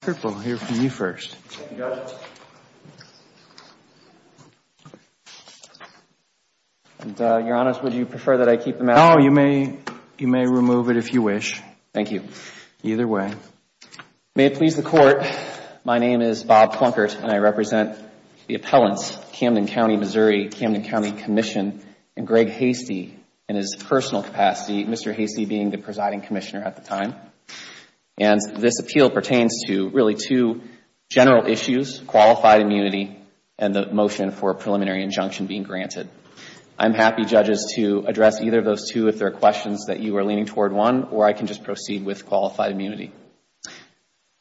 Purple. I'll hear from you first. And Your Honor, would you prefer that I keep the mat? No, you may. You may remove it if you wish. Thank you. Either way. May it please the Court. My name is Bob Plunkett and I represent the appellants, Camden County, Missouri, Camden County Commission, and Greg Hastie in his personal capacity, Mr. This appeal pertains to really two general issues, qualified immunity and the motion for a preliminary injunction being granted. I'm happy, judges, to address either of those two if there are questions that you are leaning toward one or I can just proceed with qualified immunity.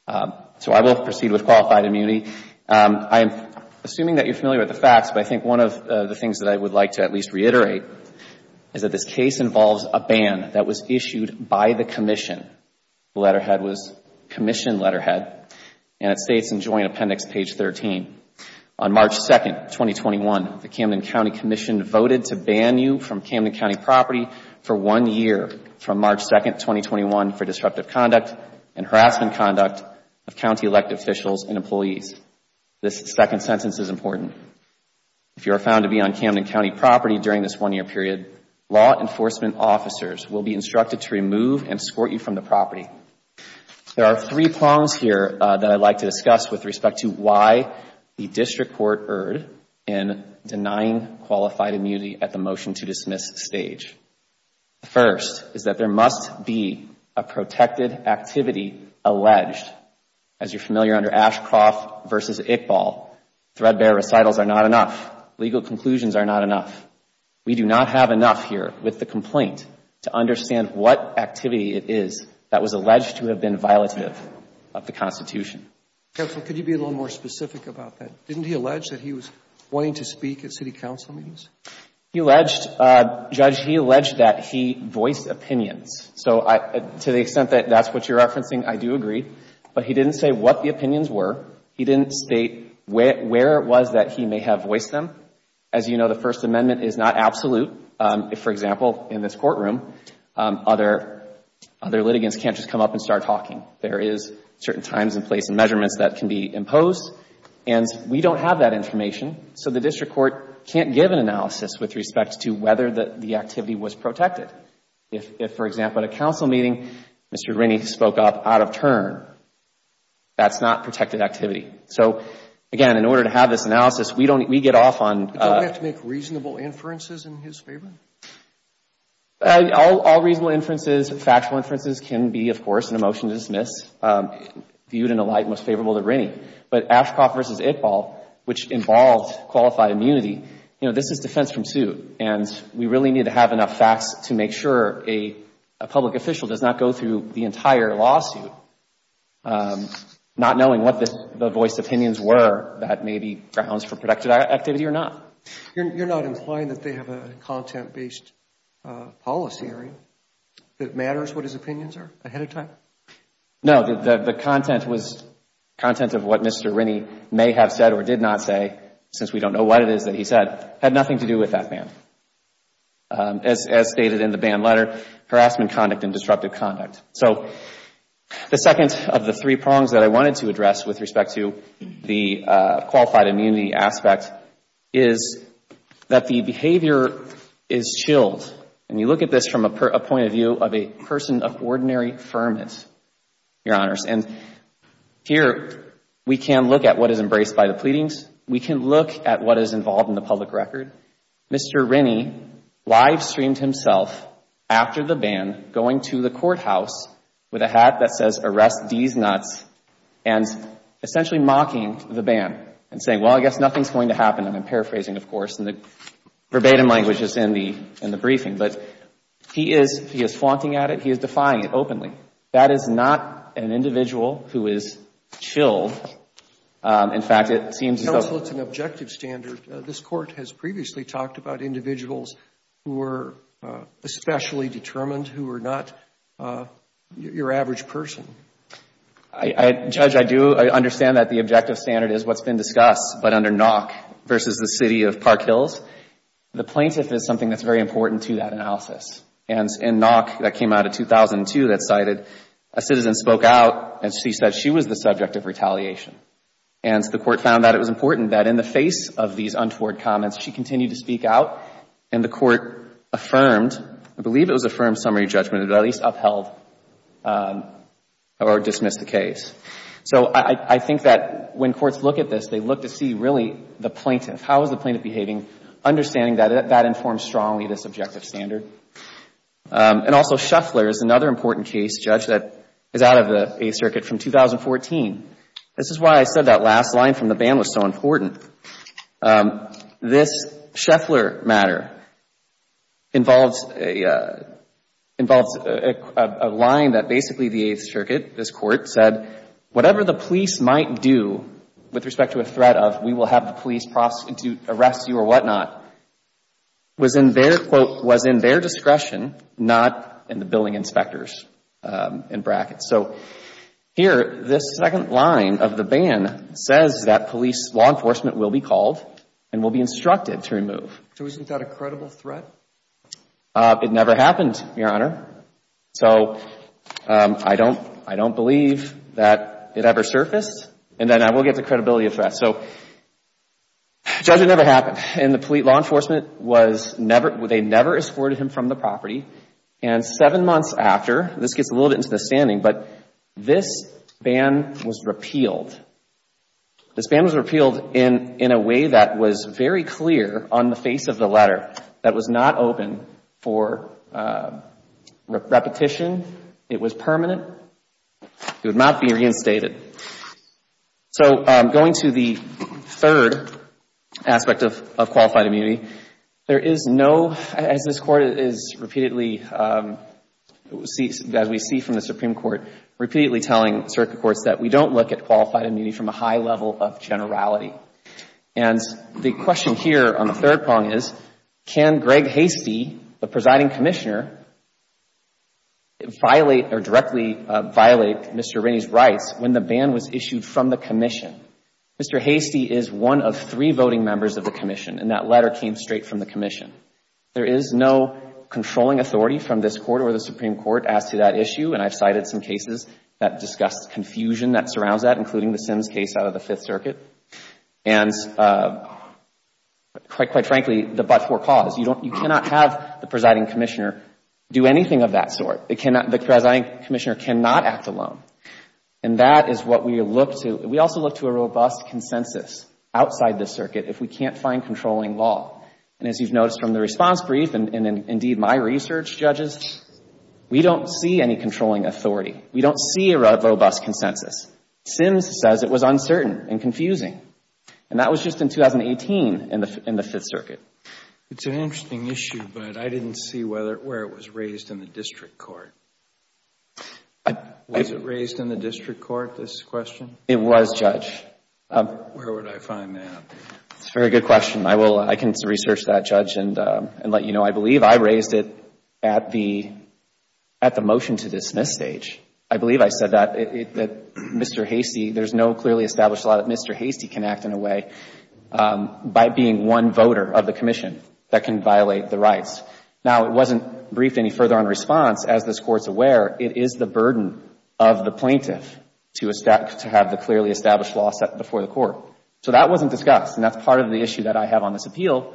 So I will proceed with qualified immunity. I'm assuming that you're familiar with the facts, but I think one of the things that I would like to at least reiterate is that this case involves a ban that was issued by the commission. The letterhead was commission letterhead and it states in joint appendix page 13, on March 2, 2021, the Camden County Commission voted to ban you from Camden County property for one year from March 2, 2021, for disruptive conduct and harassment conduct of county elected officials and employees. This second sentence is important. If you are found to be on Camden County property during this one year period, law enforcement officers will be instructed to remove and escort you from the property. There are three prongs here that I would like to discuss with respect to why the district court erred in denying qualified immunity at the motion to dismiss stage. The first is that there must be a protected activity alleged. As you're familiar under Ashcroft v. Iqbal, threadbare recitals are not enough, legal conclusions are not enough. We do not have enough here with the complaint to understand what activity it is that was alleged to have been violative of the Constitution. Counsel, could you be a little more specific about that? Didn't he allege that he was wanting to speak at city council meetings? He alleged, Judge, he alleged that he voiced opinions. So to the extent that that's what you're referencing, I do agree. But he didn't say what the opinions were. He didn't state where it was that he may have voiced them. As you know, the First Amendment is not absolute. For example, in this courtroom, other litigants can't just come up and start talking. There is certain times and place and measurements that can be imposed. And we don't have that information. So the district court can't give an analysis with respect to whether the activity was protected. If, for example, at a council meeting, Mr. Rennie spoke up out of turn, that's not protected activity. So, again, in order to have this analysis, we don't, we get off on. Don't we have to make reasonable inferences in his favor? All reasonable inferences, factual inferences can be, of course, in a motion to dismiss, viewed in a light most favorable to Rennie. But Ashcroft v. Iqbal, which involved qualified immunity, you know, this is defense from suit. And we really need to have enough facts to make sure a public official does not go through the entire lawsuit, not knowing what the voiced opinions were that may be grounds for protected activity or not. You're not implying that they have a content-based policy hearing that matters what his opinions are ahead of time? No, the content was content of what Mr. Rennie may have said or did not say, since we don't know what it is that he said, had nothing to do with that ban. As stated in the ban letter, harassment conduct and disruptive conduct. So the second of the three prongs that I wanted to address with respect to the qualified immunity aspect is that the behavior is chilled. And you look at this from a point of view of a person of ordinary firmness, Your Honors. And here we can look at what is embraced by the pleadings. We can look at what is involved in the public record. Mr. Rennie live streamed himself after the ban going to the courthouse with a hat that says arrest these nuts and essentially mocking the ban and saying, well, I guess nothing's going to happen. And I'm paraphrasing, of course, and the verbatim language is in the briefing. But he is, he is flaunting at it. He is defying it openly. That is not an individual who is chilled. In fact, it seems as though. Counsel, it's an objective standard. This Court has previously talked about individuals who are especially determined, who are not your average person. I, Judge, I do understand that the objective standard is what's been discussed, but under Nock versus the City of Park Hills, the plaintiff is something that's very important to that analysis. And in Nock, that came out of 2002, that cited a citizen spoke out and she said she was the subject of retaliation. And the Court found that it was important that in the face of these untoward comments, she continued to speak out. And the Court affirmed, I believe it was affirmed summary judgment, or at least upheld or dismissed the case. So I think that when courts look at this, they look to see really the plaintiff, how is the plaintiff behaving, understanding that that informs strongly this objective standard. And also Shuffler is another important case, Judge, that is out of the Eighth Circuit from 2014. This is why I said that last line from the ban was so important. This Shuffler matter involves a line that basically the Eighth Circuit, this Court, said whatever the police might do with respect to a threat of we will have the police prosecute, arrest you or whatnot, was in their, quote, was in their discretion, not in the billing inspectors in brackets. So here, this second line of the ban says that police, law enforcement will be called and will be instructed to remove. So isn't that a credible threat? It never happened, Your Honor. So I don't, I don't believe that it ever surfaced. And then I will get the credibility of that. So, Judge, it never happened. And the police, law enforcement was never, they never escorted him from the property. And seven months after, this gets a little bit into the standing, but this ban was repealed. This ban was repealed in a way that was very clear on the face of the letter, that was not open for repetition. It was permanent. It would not be reinstated. So going to the third aspect of qualified immunity, there is no, as this Court is repeatedly, as we see from the Supreme Court, repeatedly telling circuit courts that we don't look at qualified immunity from a high level of generality. And the question here on the third prong is, can Greg Hastie, the presiding commissioner, violate or directly violate Mr. Rennie's rights when the ban was issued from the Commission? Mr. Hastie is one of three voting members of the Commission, and that letter came straight from the Commission. There is no controlling authority from this Court or the Supreme Court as to that issue. And I've cited some cases that discussed confusion that surrounds that, including the Sims case out of the Fifth Circuit. And quite frankly, the but-for cause, you cannot have the presiding commissioner do anything of that sort. The presiding commissioner cannot act alone. And that is what we look to. We also look to a robust consensus outside the circuit if we can't find controlling law. And as you've noticed from the response brief and indeed my research, judges, we don't see any controlling authority. We don't see a robust consensus. Sims says it was uncertain and confusing. And that was just in 2018 in the Fifth Circuit. It's an interesting issue, but I didn't see where it was raised in the district court. Was it raised in the district court, this question? It was, Judge. Where would I find that? It's a very good question. I can research that, Judge, and let you know. I believe I raised it at the motion to dismiss stage. I believe I said that Mr. Hastie, there's no clearly established law that Mr. Hastie can act in a way by being one voter of the commission that can violate the rights. Now, it wasn't briefed any further on response. As this court's aware, it is the burden of the plaintiff to have the clearly established law set before the court. So that wasn't discussed. And that's part of the issue that I have on this appeal,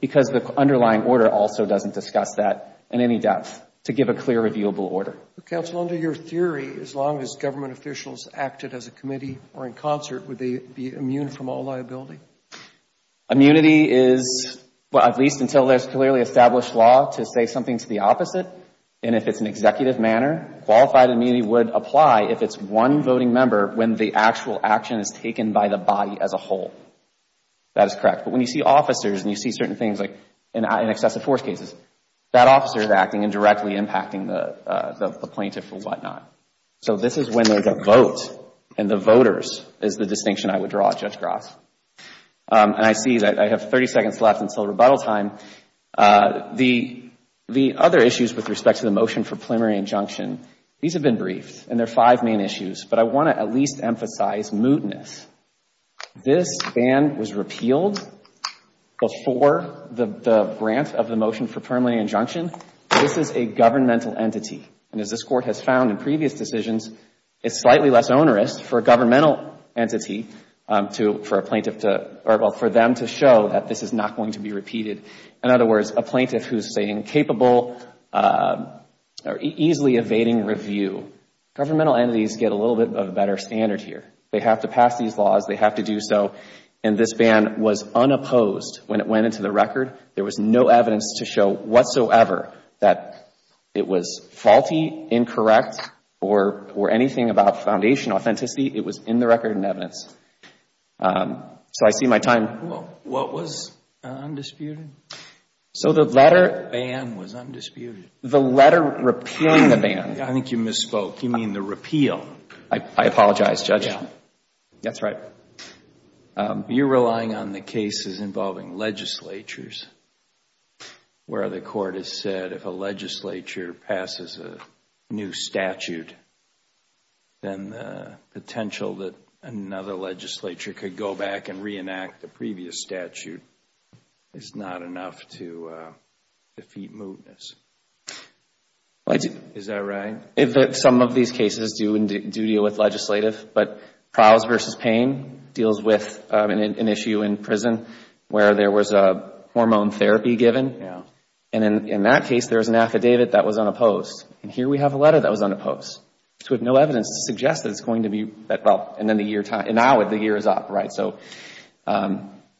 because the underlying order also doesn't discuss that in any depth to give a clear reviewable order. Counsel, under your theory, as long as government officials acted as a committee or in concert, would they be immune from all liability? Immunity is, at least until there's clearly established law to say something to the opposite. And if it's an executive manner, qualified immunity would apply if it's one voting member when the actual action is taken by the body as a whole. That is correct. But when you see officers and you see certain things like in excessive force cases, that officer is acting and directly impacting the plaintiff or whatnot. So this is when there's a vote and the voters is the distinction I would draw, Judge Gross. And I see that I have 30 seconds left until rebuttal time. The other issues with respect to the motion for preliminary injunction, these have been briefed and there are five main issues. But I want to at least emphasize mootness. This ban was repealed before the grant of the motion for preliminary injunction. This is a governmental entity. And as this Court has found in previous decisions, it's slightly less onerous for a governmental entity to, for a plaintiff to, or for them to show that this is not going to be repeated. In other words, a plaintiff who's incapable or easily evading review. Governmental entities get a little bit of a better standard here. They have to pass these laws. They have to do so. And this ban was unopposed when it went into the record. There was no evidence to show whatsoever that it was faulty, incorrect, or anything about foundation authenticity. It was in the record and evidence. So I see my time. What was undisputed? So the letter. The ban was undisputed. The letter repealing the ban. I think you misspoke. You mean the repeal. I apologize, Judge. That's right. You're relying on the cases involving legislatures where the Court has said if a legislature passes a new statute, then the potential that another legislature could go back and reenact the previous statute is not enough to defeat mootness. Is that right? Some of these cases do deal with legislative, but trials versus pain deals with an issue in prison where there was a hormone therapy given. And in that case, there was an affidavit that was unopposed. And here we have a letter that was unopposed. So with no evidence to suggest that it's going to be, and now the year is up, right? So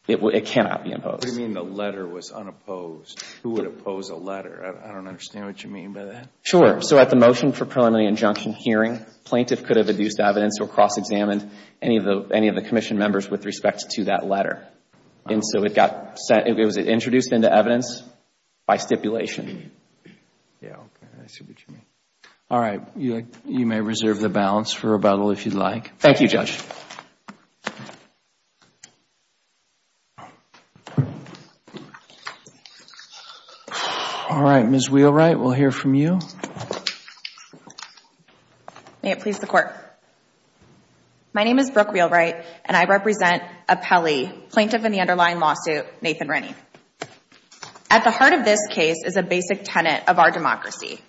it cannot be opposed. What do you mean the letter was unopposed? Who would oppose a letter? I don't understand what you mean by that. Sure. So at the motion for preliminary injunction hearing, plaintiff could have adduced evidence or cross-examined any of the Commission members with respect to that letter. And so it got sent, it was introduced into evidence by stipulation. Yeah, I see what you mean. All right. You may reserve the balance for rebuttal if you'd like. Thank you, Judge. All right, Ms. Wheelwright, we'll hear from you. May it please the court. My name is Brooke Wheelwright and I represent a Pelley plaintiff in the underlying lawsuit, Nathan Rennie. At the heart of this case is a basic tenet of our democracy,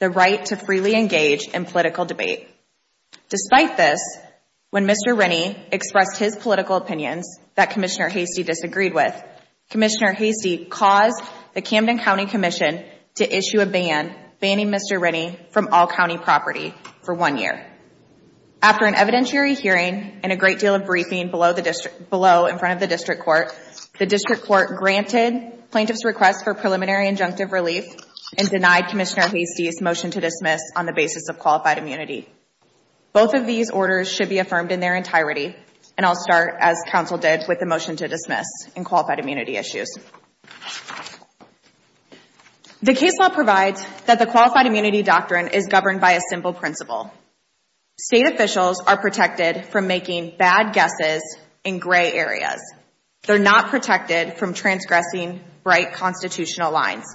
the right to freely engage in political debate. Despite this, when Mr. Rennie expressed his political opinions that Commissioner Hasty disagreed with, Commissioner Hasty caused the Camden County Commission to issue a ban, banning Mr. Rennie from all county property for one year. After an evidentiary hearing and a great deal of briefing below in front of the district court, the district court granted plaintiff's request for preliminary injunctive relief and denied Commissioner Hasty's motion to dismiss on the basis of qualified immunity. Both of these orders should be affirmed in their entirety, and I'll start, as counsel did, with the motion to dismiss in qualified immunity issues. The case law provides that the qualified immunity doctrine is governed by a simple principle. State officials are protected from making bad guesses in gray areas. They're not protected from transgressing right constitutional lines.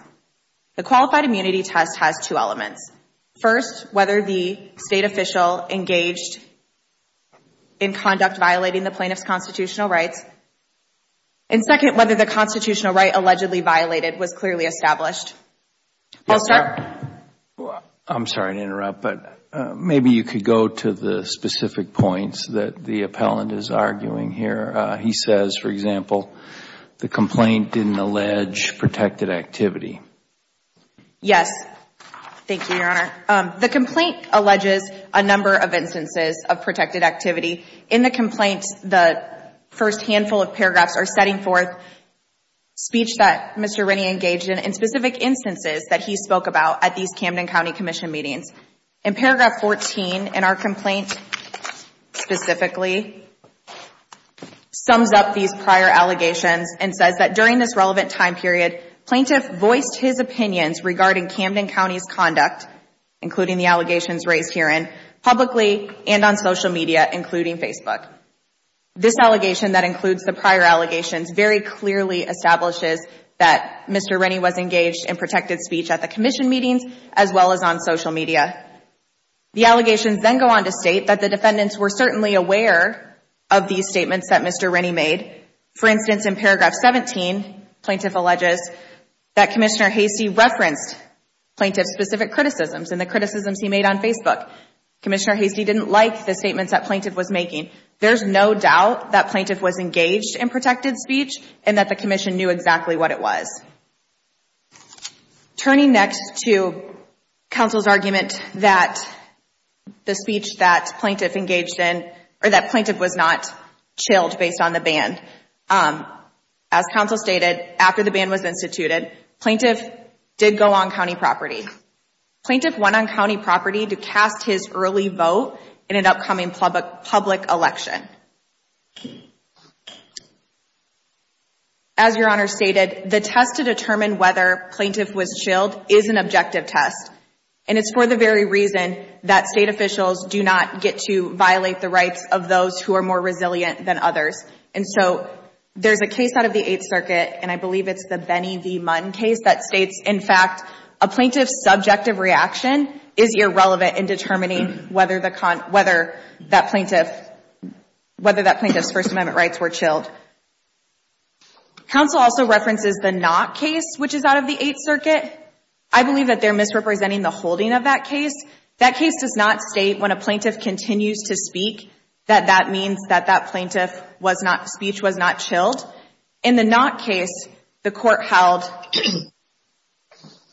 First, whether the state official engaged in conduct violating the plaintiff's constitutional rights. And second, whether the constitutional right allegedly violated was clearly established. I'm sorry to interrupt, but maybe you could go to the specific points that the appellant is arguing here. He says, for example, the complaint didn't allege protected activity. Yes, thank you, Your Honor. The complaint alleges a number of instances of protected activity. In the complaint, the first handful of paragraphs are setting forth speech that Mr. Rennie engaged in, and specific instances that he spoke about at these Camden County Commission meetings. In paragraph 14, in our complaint specifically, sums up these prior allegations and says that during this relevant time period, plaintiff voiced his opinions regarding Camden County's conduct, including the allegations raised herein, publicly and on social media, including Facebook. This allegation that includes the prior allegations very clearly establishes that Mr. Rennie was engaged in protected speech at the Commission meetings, as well as on social media. The allegations then go on to state that the defendants were certainly aware of these statements that Mr. Rennie made. For instance, in paragraph 17, plaintiff alleges that Commissioner Hastie referenced plaintiff's specific criticisms and the criticisms he made on Facebook. Commissioner Hastie didn't like the statements that plaintiff was making. There's no doubt that plaintiff was engaged in protected speech and that the Commission knew exactly what it was. Turning next to counsel's argument that the speech that plaintiff engaged in, or that plaintiff was not chilled based on the ban. As counsel stated, after the ban was instituted, plaintiff did go on county property. Plaintiff went on county property to cast his early vote in an upcoming public election. As your honor stated, the test to determine whether plaintiff was chilled is an objective test. And it's for the very reason that state officials do not get to violate the rights of those who are more resilient than others. And so there's a case out of the Eighth Circuit, and I believe it's the Benny V. Munn case, that states, in fact, a plaintiff's subjective reaction is irrelevant in determining whether that plaintiff was chilled. Whether that plaintiff's First Amendment rights were chilled. Counsel also references the Knott case, which is out of the Eighth Circuit. I believe that they're misrepresenting the holding of that case. That case does not state, when a plaintiff continues to speak, that that means that that plaintiff was not, speech was not chilled. In the Knott case, the court held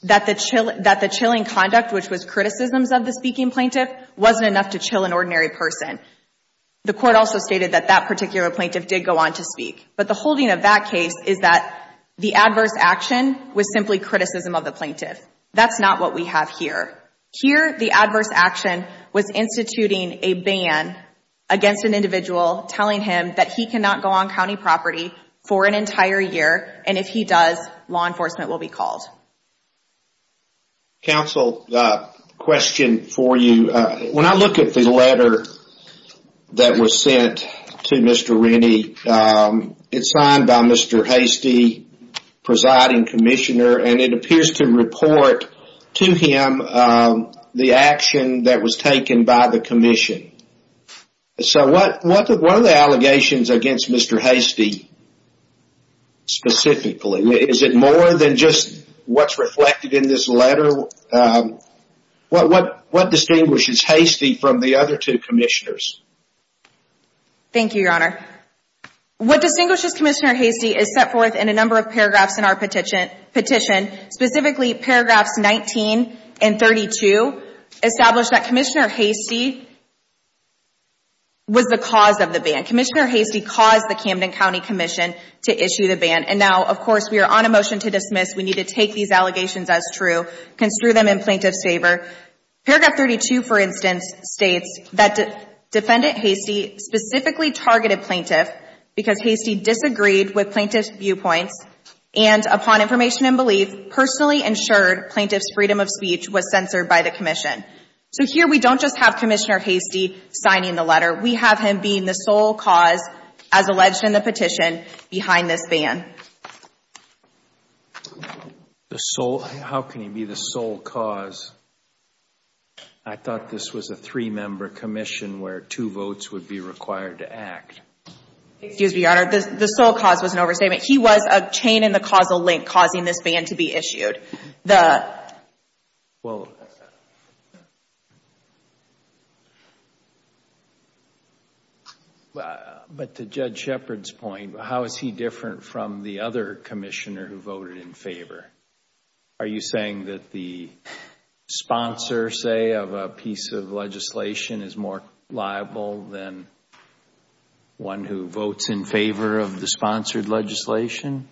that the chilling conduct, which was criticisms of the speaking plaintiff, wasn't enough to chill an ordinary person. The court also stated that that particular plaintiff did go on to speak. But the holding of that case is that the adverse action was simply criticism of the plaintiff. That's not what we have here. Here, the adverse action was instituting a ban against an individual, telling him that he cannot go on county property for an entire year. And if he does, law enforcement will be called. Counsel, question for you. When I look at the letter that was sent to Mr. Rennie, it's signed by Mr. Hastie, presiding commissioner. And it appears to report to him the action that was taken by the commission. So what are the allegations against Mr. Hastie specifically? Is it more than just what's reflected in this letter? What distinguishes Hastie from the other two commissioners? Thank you, Your Honor. What distinguishes Commissioner Hastie is set forth in a number of paragraphs in our petition. Specifically, paragraphs 19 and 32 establish that Commissioner Hastie was the cause of the ban. Commissioner Hastie caused the Camden County Commission to issue the ban. And now, of course, we are on a motion to dismiss. We need to take these allegations as true. Construe them in plaintiff's favor. Paragraph 32, for instance, states that Defendant Hastie specifically targeted plaintiff because Hastie disagreed with plaintiff's viewpoints and, upon information and belief, personally ensured plaintiff's freedom of speech was censored by the commission. So here, we don't just have Commissioner Hastie signing the letter. We have him being the sole cause, as alleged in the petition, behind this ban. The sole? How can he be the sole cause? I thought this was a three-member commission where two votes would be required to act. Excuse me, Your Honor. The sole cause was an overstatement. He was a chain in the causal link causing this ban to be issued. The... Well... The other commissioner who voted in favor. Are you saying that the sponsor, say, of a piece of legislation is more liable than one who votes in favor of the sponsored legislation?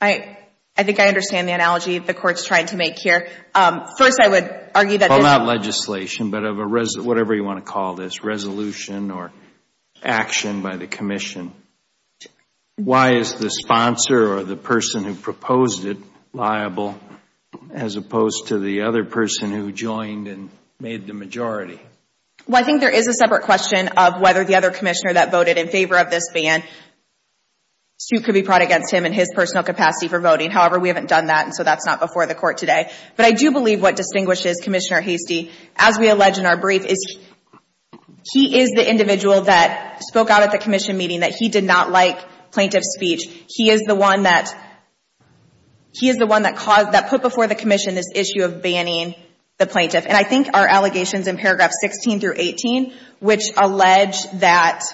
I think I understand the analogy the Court's trying to make here. First, I would argue that... Well, not legislation, but whatever you want to call this, resolution or action by the commission. Why is the sponsor or the person who proposed it liable as opposed to the other person who joined and made the majority? Well, I think there is a separate question of whether the other commissioner that voted in favor of this ban suit could be brought against him in his personal capacity for voting. However, we haven't done that, and so that's not before the Court today. But I do believe what distinguishes Commissioner Hastie, as we allege in our brief, is he is the individual that spoke out at the commission meeting that he did not like plaintiff's speech. He is the one that put before the commission this issue of banning the plaintiff. And I think our allegations in paragraphs 16 through 18, which allege that...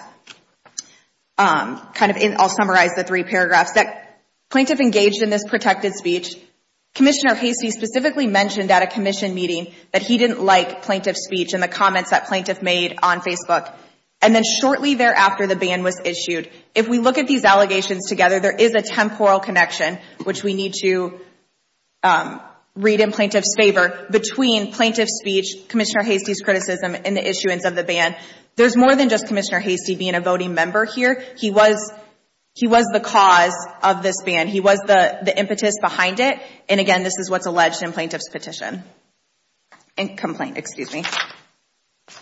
I'll summarize the three paragraphs. That plaintiff engaged in this protected speech. Commissioner Hastie specifically mentioned at a commission meeting that he didn't like plaintiff's speech and the comments that plaintiff made on Facebook. And then shortly thereafter, the ban was issued. If we look at these allegations together, there is a temporal connection, which we need to read in plaintiff's favor, between plaintiff's speech, Commissioner Hastie's criticism, and the issuance of the ban. There's more than just Commissioner Hastie being a voting member here. He was the cause of this ban. He was the impetus behind it. And again, this is what's alleged in plaintiff's petition. In complaint, excuse me.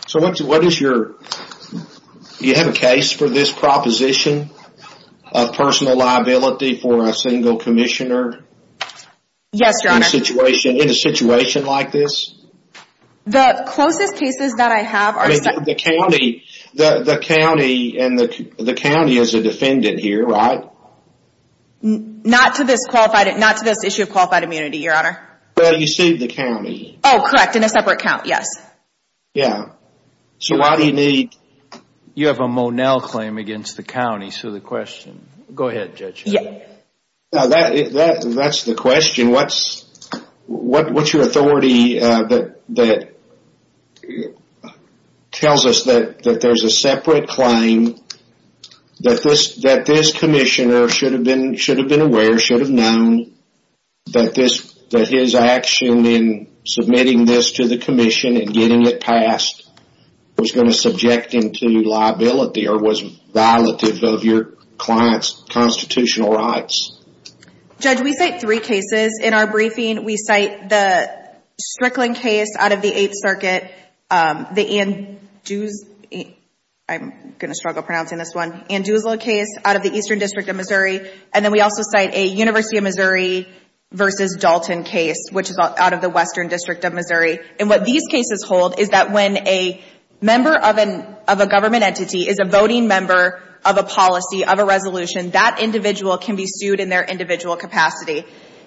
So what is your... Do you have a case for this proposition of personal liability for a single commissioner? Yes, Your Honor. In a situation like this? The closest cases that I have are... I mean, the county and the county is a defendant here, right? Not to this qualified... Not to this issue of qualified immunity, Your Honor. Well, you saved the county. Oh, correct. In a separate count, yes. Yeah. So why do you need... You have a Monell claim against the county. So the question... Go ahead, Judge. No, that's the question. What's your authority that tells us that there's a separate claim, that this commissioner should have been aware, should have known, that his action in submitting this to the commission and getting it passed was going to subject him to liability or was violative of your client's constitutional rights? Judge, we cite three cases. In our briefing, we cite the Strickland case out of the Eighth Circuit, the Andrews... I'm going to struggle pronouncing this one. Andrews case out of the Eastern District of Missouri. And then we also cite a University of Missouri versus Dalton case, which is out of the Western District of Missouri. And what these cases hold is that when a member of a government entity is a voting member of a policy, of a resolution, that individual can be sued in their individual capacity.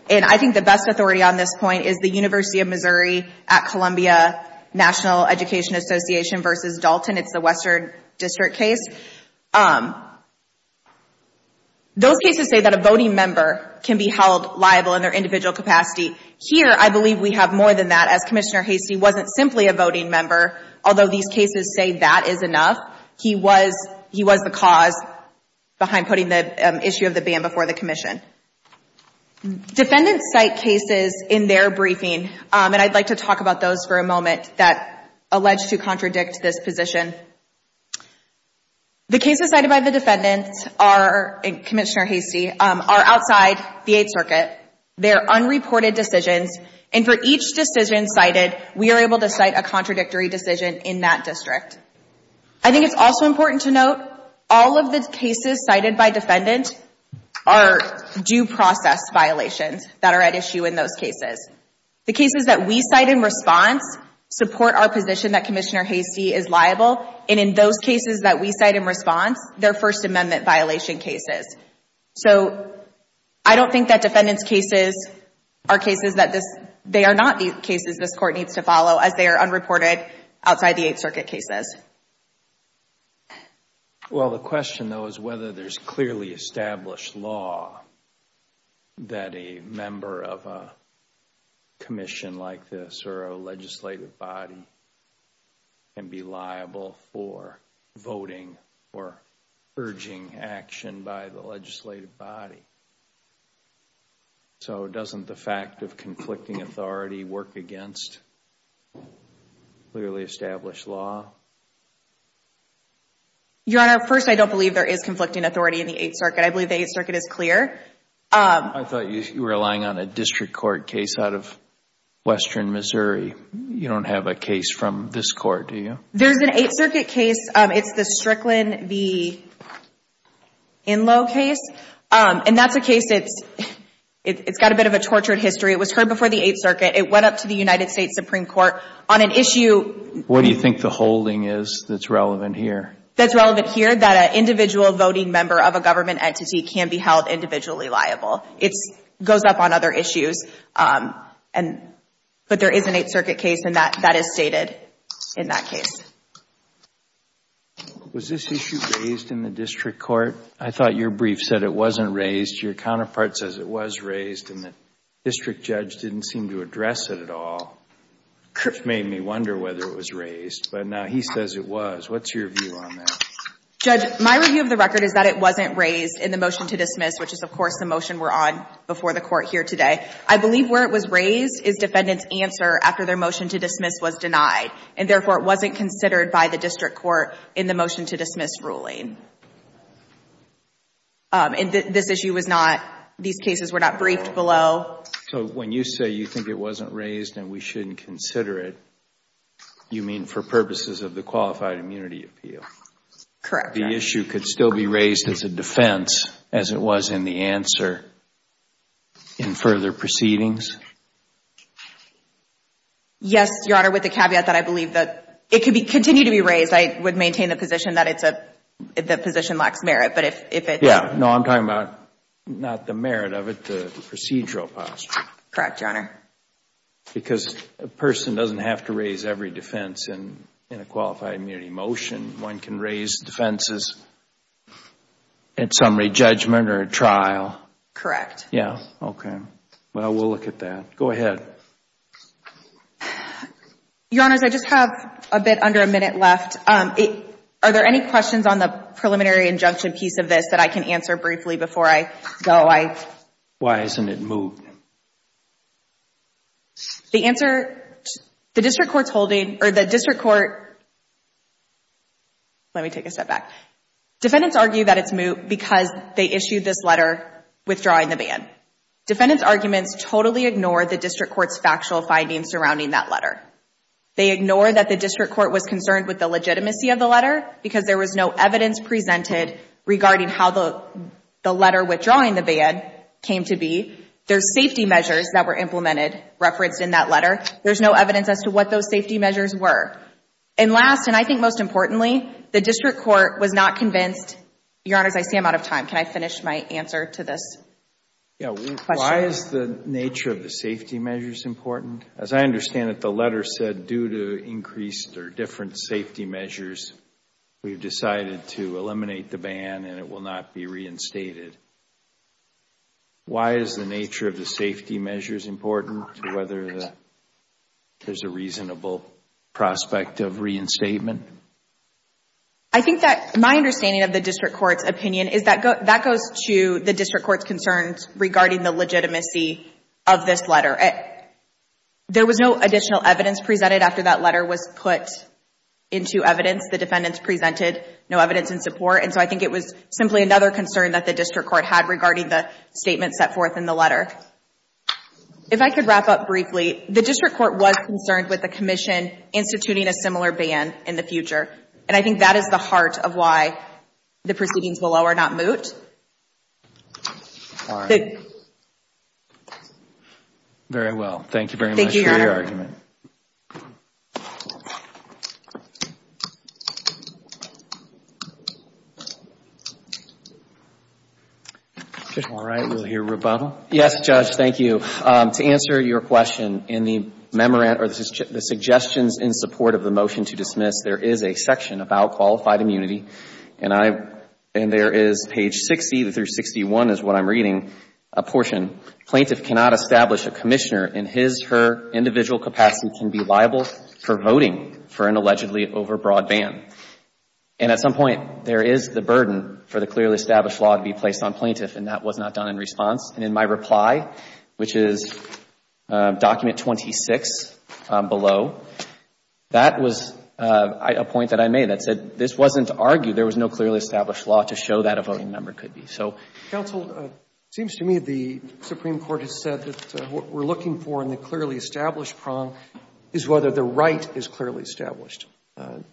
And I think the best authority on this point is the University of Missouri at Columbia National Education Association versus Dalton. It's the Western District case. Those cases say that a voting member can be held liable in their individual capacity. Here, I believe we have more than that, as Commissioner Hastie wasn't simply a voting member, although these cases say that is enough. He was the cause behind putting the issue of the ban before the commission. Defendants cite cases in their briefing, and I'd like to talk about those for a moment, that allege to contradict this position. The cases cited by the defendants are, and Commissioner Hastie, are outside the Eighth Circuit. They're unreported decisions. And for each decision cited, we are able to cite a contradictory decision in that district. I think it's also important to note, all of the cases cited by defendant are due process violations that are at issue in those cases. The cases that we cite in response support our position that Commissioner Hastie is liable. And in those cases that we cite in response, they're First Amendment violation cases. So I don't think that defendant's cases are cases that this, they are not the cases this court needs to follow as they are unreported outside the Eighth Circuit cases. Well, the question though is whether there's clearly established law that a member of a commission like this or a legislative body can be liable for voting or urging action by the legislative body. So doesn't the fact of conflicting authority work against clearly established law? Your Honor, first, I don't believe there is conflicting authority in the Eighth Circuit. I believe the Eighth Circuit is clear. I thought you were relying on a district court case out of western Missouri. You don't have a case from this court, do you? There's an Eighth Circuit case. It's the Strickland v. Inlow case. And that's a case, it's got a bit of a tortured history. It was heard before the Eighth Circuit. It went up to the United States Supreme Court on an issue. What do you think the holding is that's relevant here? That's relevant here, that an individual voting member of a government entity can be held individually liable. It goes up on other issues. And, but there is an Eighth Circuit case, and that is stated in that case. Was this issue raised in the district court? I thought your brief said it wasn't raised. Your counterpart says it was raised, and the district judge didn't seem to address it at all. It made me wonder whether it was raised, but now he says it was. What's your view on that? Judge, my review of the record is that it wasn't raised in the motion to dismiss, which is, of course, the motion we're on before the court here today. I believe where it was raised is defendant's answer after their motion to dismiss was denied, and therefore, it wasn't considered by the district court in the motion to dismiss ruling. And this issue was not, these cases were not briefed below. So when you say you think it wasn't raised and we shouldn't consider it, you mean for purposes of the qualified immunity appeal? Correct. The issue could still be raised as a defense as it was in the answer in further proceedings? Yes, Your Honor, with the caveat that I believe that it could continue to be raised. I would maintain the position that it's a, the position lacks merit, but if it's... Yeah, no, I'm talking about not the merit of it, the procedural posture. Correct, Your Honor. Because a person doesn't have to raise every defense in a qualified immunity motion. One can raise defenses at summary judgment or a trial. Correct. Yeah, okay. Well, we'll look at that. Go ahead. Your Honors, I just have a bit under a minute left. Are there any questions on the preliminary injunction piece of this that I can answer briefly before I go? Why isn't it moved? The answer, the district court's holding, or the district court... Let me take a step back. Defendants argue that it's moved because they issued this letter withdrawing the ban. Defendants' arguments totally ignore the district court's factual findings surrounding that letter. They ignore that the district court was concerned with the legitimacy of the letter because there was no evidence presented regarding how the letter withdrawing the ban came to be. There's safety measures that were implemented, referenced in that letter. There's no evidence as to what those safety measures were. And last, and I think most importantly, the district court was not convinced... Your Honors, I see I'm out of time. Can I finish my answer to this question? Why is the nature of the safety measures important? As I understand it, the letter said due to increased or different safety measures, we've decided to eliminate the ban and it will not be reinstated. Why is the nature of the safety measures important to whether there's a reasonable prospect of reinstatement? I think that my understanding of the district court's opinion is that that goes to the district court's concerns regarding the legitimacy of this letter. There was no additional evidence presented after that letter was put into evidence. The defendants presented no evidence in support. And so I think it was simply another concern that the district court had regarding the statements set forth in the letter. If I could wrap up briefly, the district court was concerned with the commission instituting a similar ban in the future. And I think that is the heart of why the proceedings below are not moot. Very well. Thank you very much for your argument. All right, we'll hear rebuttal. Yes, Judge, thank you. To answer your question, in the suggestions in support of the motion to dismiss, there is a section about qualified immunity. And there is page 60 through 61 is what I'm reading, a portion. Plaintiff cannot establish a commissioner in his, her, individual capacity can be liable for voting for an allegedly overbroad ban. And at some point, there is the burden for the clearly established law to be placed on plaintiff and that was not done in response. And in my reply, which is document 26 below, that was a point that I made that said this wasn't to argue there was no clearly established law to show that a voting member could be. So counsel, it seems to me the Supreme Court has said that what we're looking for in the clearly established prong is whether the right is clearly established.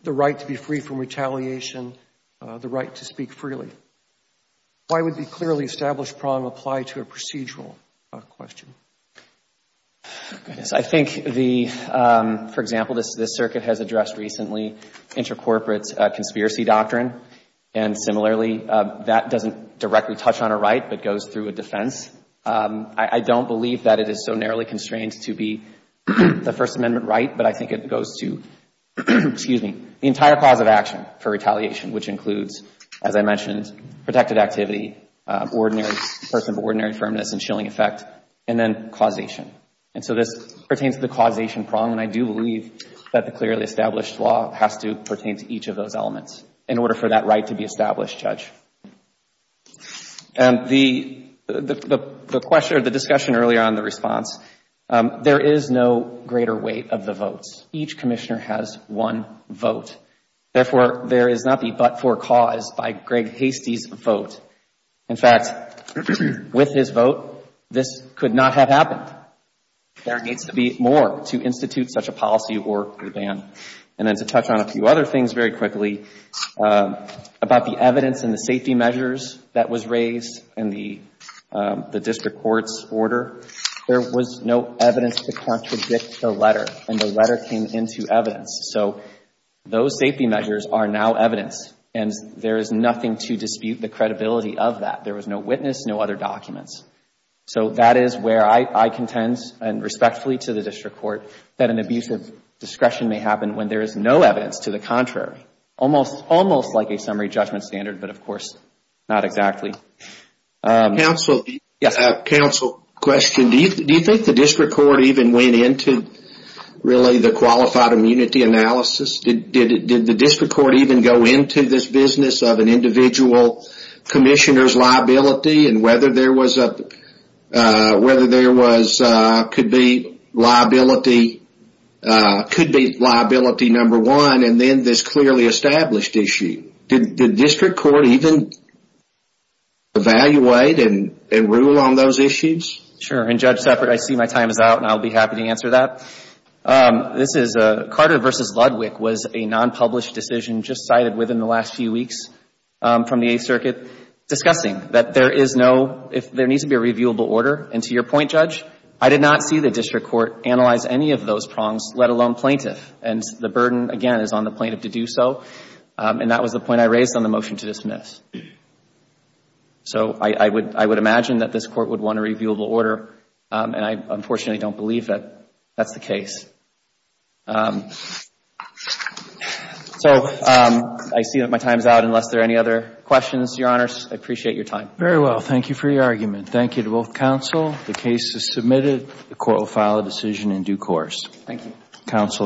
The right to be free from retaliation, the right to speak freely. Why would the clearly established prong apply to a procedural question? Oh, goodness. I think the, for example, this, this circuit has addressed recently intercorporate conspiracy doctrine. And similarly, that doesn't directly touch on a right but goes through a defense. I don't believe that it is so narrowly constrained to be the First Amendment right. But I think it goes to, excuse me, the entire cause of action for retaliation, which includes, as I mentioned, protected activity, ordinary, person of ordinary firmness and shilling effect, and then causation. And so this pertains to the causation prong. And I do believe that the clearly established law has to pertain to each of those elements in order for that right to be established, Judge. And the, the question or the discussion earlier on the response, there is no greater weight of the votes. Each commissioner has one vote. Therefore, there is nothing but for cause by Greg Hastie's vote. In fact, with his vote, this could not have happened. There needs to be more to institute such a policy or a ban. And then to touch on a few other things very quickly about the evidence and the safety measures that was raised in the, the district court's order. There was no evidence to contradict the letter and the letter came into evidence. So those safety measures are now evidence and there is nothing to dispute the credibility of that. There was no witness, no other documents. So that is where I, I contend and respectfully to the district court that an abuse of discretion may happen when there is no evidence to the contrary. Almost, almost like a summary judgment standard, but of course, not exactly. Counsel. Counsel, question. Do you, do you think the district court even went into really the qualified immunity analysis? Did, did, did the district court even go into this business of an individual commissioner's liability and whether there was a, whether there was, could be liability, could be liability number one and then this clearly established issue. Did, did district court even evaluate and, and rule on those issues? Sure, and Judge Seppert, I see my time is out and I'll be happy to answer that. This is Carter versus Ludwig was a non-published decision just cited within the last few weeks from the Eighth Circuit discussing that there is no, if there needs to be a reviewable order and to your point, Judge, I did not see the district court analyze any of those prongs, let alone plaintiff and the burden again is on the plaintiff to do so and that was the point I raised on the motion to dismiss. So I, I would, I would imagine that this court would want a reviewable order and I unfortunately don't believe that that's the case. So I see that my time is out. Unless there are any other questions, Your Honors, I appreciate your time. Very well. Thank you for your argument. Thank you to both counsel. The case is submitted. The court will file a decision in due course. Thank you. Counsel.